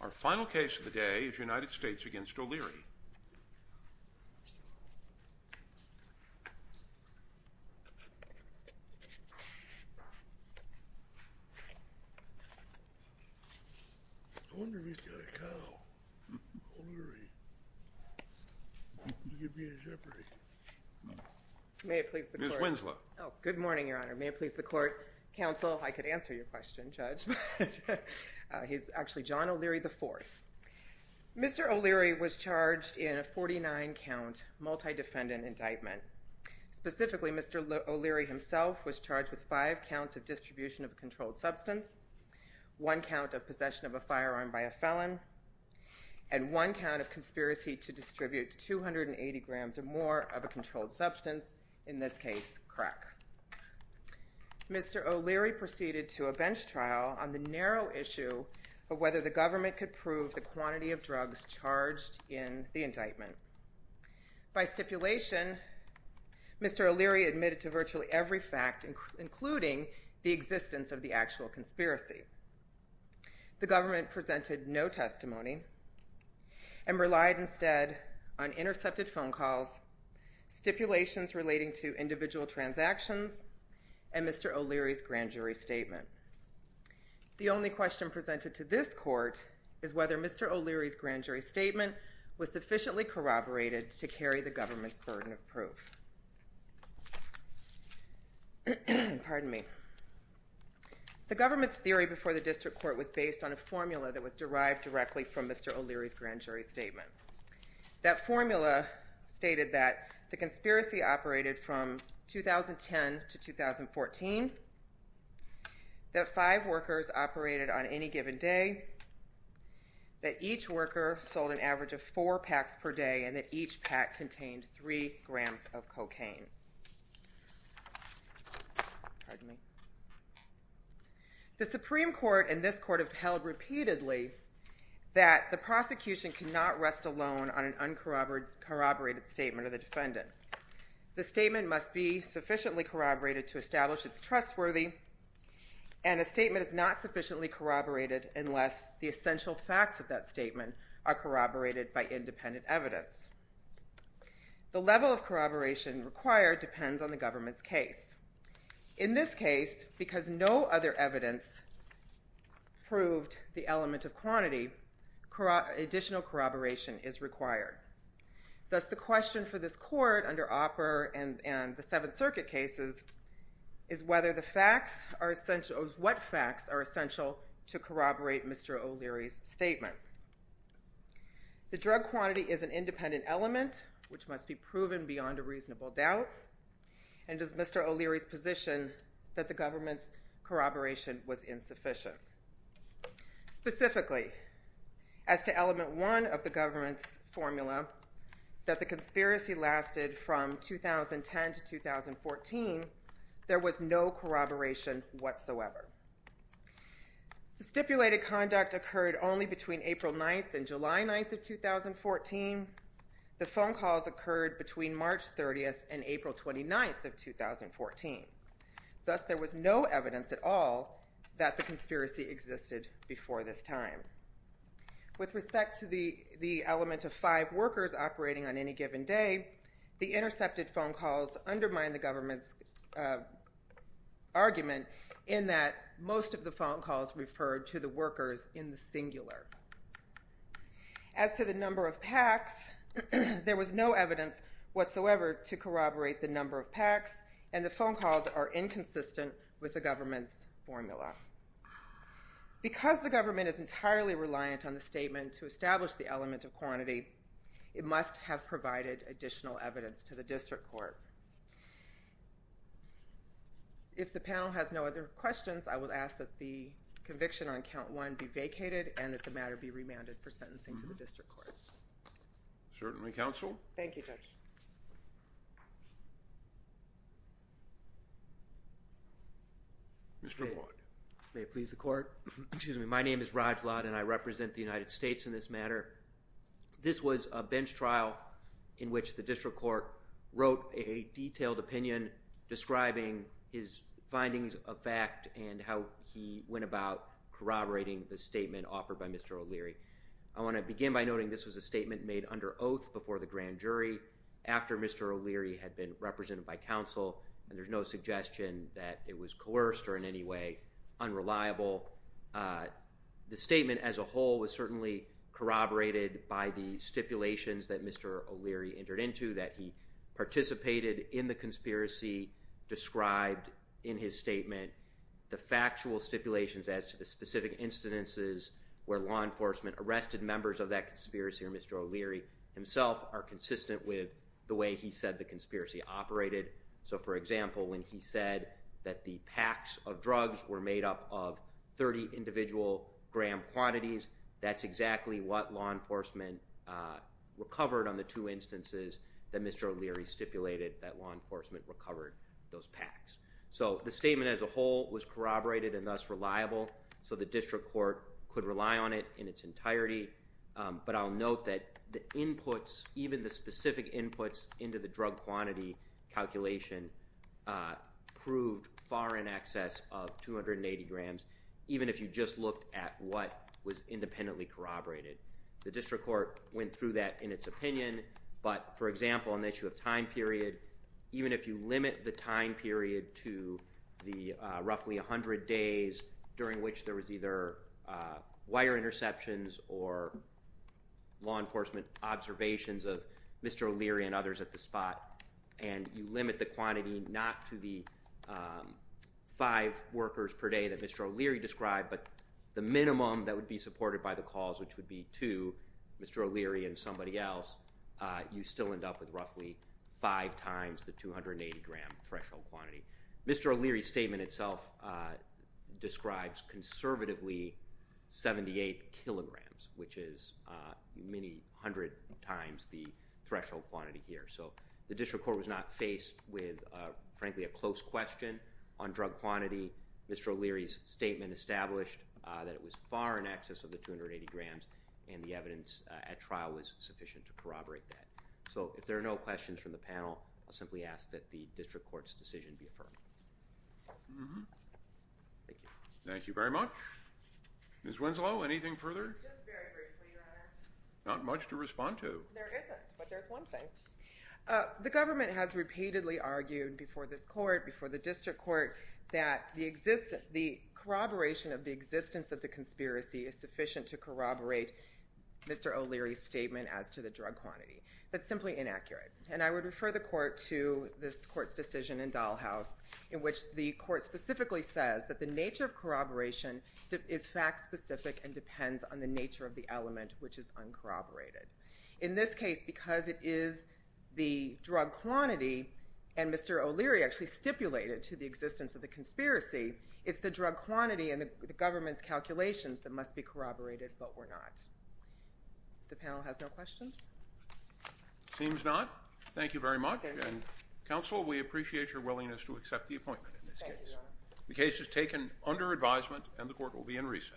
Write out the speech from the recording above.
Our final case of the day is United States v. O'Leary. I wonder if he's got a cow. O'Leary. He could be a Jeopardy. May it please the court. Ms. Winslow. Oh, good morning, Your Honor. May it please the court. Counsel, I could answer your question, Judge, but he's actually John O'Leary, IV. Mr. O'Leary was charged in a 49-count multidefendant indictment. Specifically, Mr. O'Leary himself was charged with five counts of distribution of a controlled substance, one count of possession of a firearm by a felon, and one count of conspiracy to distribute 280 grams or more of a controlled substance, in this case crack. Mr. O'Leary proceeded to a bench trial on the narrow issue of whether the government could prove the quantity of drugs charged in the indictment. By stipulation, Mr. O'Leary admitted to virtually every fact, including the existence of the actual conspiracy. The government presented no testimony and relied instead on intercepted phone calls, stipulations relating to individual transactions, and Mr. O'Leary's grand jury statement. The only question presented to this court is whether Mr. O'Leary's grand jury statement was sufficiently corroborated to carry the government's burden of proof. Pardon me. The government's theory before the district court was based on a formula that was derived directly from Mr. O'Leary's grand jury statement. That formula stated that the conspiracy operated from 2010 to 2014, that five workers operated on any given day, that each worker sold an average of four packs per day, and that each pack contained three grams of cocaine. Pardon me. The Supreme Court and this court have held repeatedly that the prosecution cannot rest alone on an uncorroborated statement of the defendant. The statement must be sufficiently corroborated to establish it's trustworthy, and a statement is not sufficiently corroborated unless the essential facts of that statement are corroborated by independent evidence. The level of corroboration required depends on the government's case. In this case, because no other evidence proved the element of quantity, additional corroboration is required. Thus the question for this court under Opper and the Seventh Circuit cases is what facts are essential to corroborate Mr. O'Leary's statement. The drug quantity is an independent element, which must be proven beyond a reasonable doubt, and it is Mr. O'Leary's position that the government's corroboration was insufficient. Specifically, as to element one of the government's formula, that the conspiracy lasted from 2010 to 2014, there was no corroboration whatsoever. The stipulated conduct occurred only between April 9th and July 9th of 2014. The phone calls occurred between March 30th and April 29th of 2014. Thus there was no evidence at all that the conspiracy existed before this time. With respect to the element of five workers operating on any given day, the intercepted phone calls undermine the government's argument in that most of the phone calls referred to the workers in the singular. As to the number of packs, there was no evidence whatsoever to corroborate the number of packs, and the phone calls are inconsistent with the government's formula. Because the government is entirely reliant on the statement to establish the element of quantity, it must have provided additional evidence to the district court. If the panel has no other questions, I will ask that the conviction on count one be vacated and that the matter be remanded for sentencing to the district court. Certainly, counsel. Thank you, Judge. Mr. Watt. May it please the court. Excuse me. My name is Raj Watt, and I represent the United States in this matter. This was a bench trial in which the district court wrote a detailed opinion describing his findings of fact and how he went about corroborating the statement offered by Mr. O'Leary. I want to begin by noting this was a statement made under oath before the grand jury, after Mr. O'Leary had been represented by counsel, and there's no suggestion that it was coerced or in any way unreliable. The statement as a whole was certainly corroborated by the stipulations that Mr. O'Leary entered into, that he participated in the conspiracy described in his statement. The factual stipulations as to the specific incidences where law enforcement arrested members of that conspiracy or Mr. O'Leary himself are consistent with the way he said the conspiracy operated. So, for example, when he said that the packs of drugs were made up of 30 individual gram quantities, that's exactly what law enforcement recovered on the two instances that Mr. O'Leary stipulated that law enforcement recovered those packs. So, the statement as a whole was corroborated and thus reliable, so the district court could rely on it in its entirety, but I'll note that the inputs, even the specific inputs into the drug quantity calculation proved far in excess of 280 grams, even if you just looked at what was independently corroborated. The district court went through that in its opinion, but, for example, an issue of time period, even if you limit the time period to the roughly 100 days during which there was either wire interceptions or law enforcement observations of Mr. O'Leary and others at the spot, and you limit the quantity not to the five workers per day that Mr. O'Leary described, but the minimum that would be supported by the cause, which would be two, Mr. O'Leary and somebody else, you still end up with roughly five times the 280 gram threshold quantity. Mr. O'Leary's statement itself describes conservatively 78 kilograms, which is many hundred times the threshold quantity here. So the district court was not faced with, frankly, a close question on drug quantity. Mr. O'Leary's statement established that it was far in excess of the 280 grams, and the evidence at trial was sufficient to corroborate that. So if there are no questions from the panel, I'll simply ask that the district court's decision be affirmed. Thank you. Thank you very much. Ms. Winslow, anything further? Just very briefly, Your Honor. Not much to respond to. There isn't, but there's one thing. The government has repeatedly argued before this court, before the district court, that the corroboration of the existence of the conspiracy is sufficient to corroborate Mr. O'Leary's statement as to the drug quantity. That's simply inaccurate. And I would refer the court to this court's decision in Dahlhaus, in which the court specifically says that the nature of corroboration is fact-specific and depends on the nature of the element, which is uncorroborated. In this case, because it is the drug quantity, and Mr. O'Leary actually stipulated to the existence of the conspiracy, it's the drug quantity and the government's calculations that must be corroborated, but were not. The panel has no questions? Seems not. Thank you very much. And, counsel, we appreciate your willingness to accept the appointment in this case. The case is taken under advisement, and the court will be in recess. Thank you.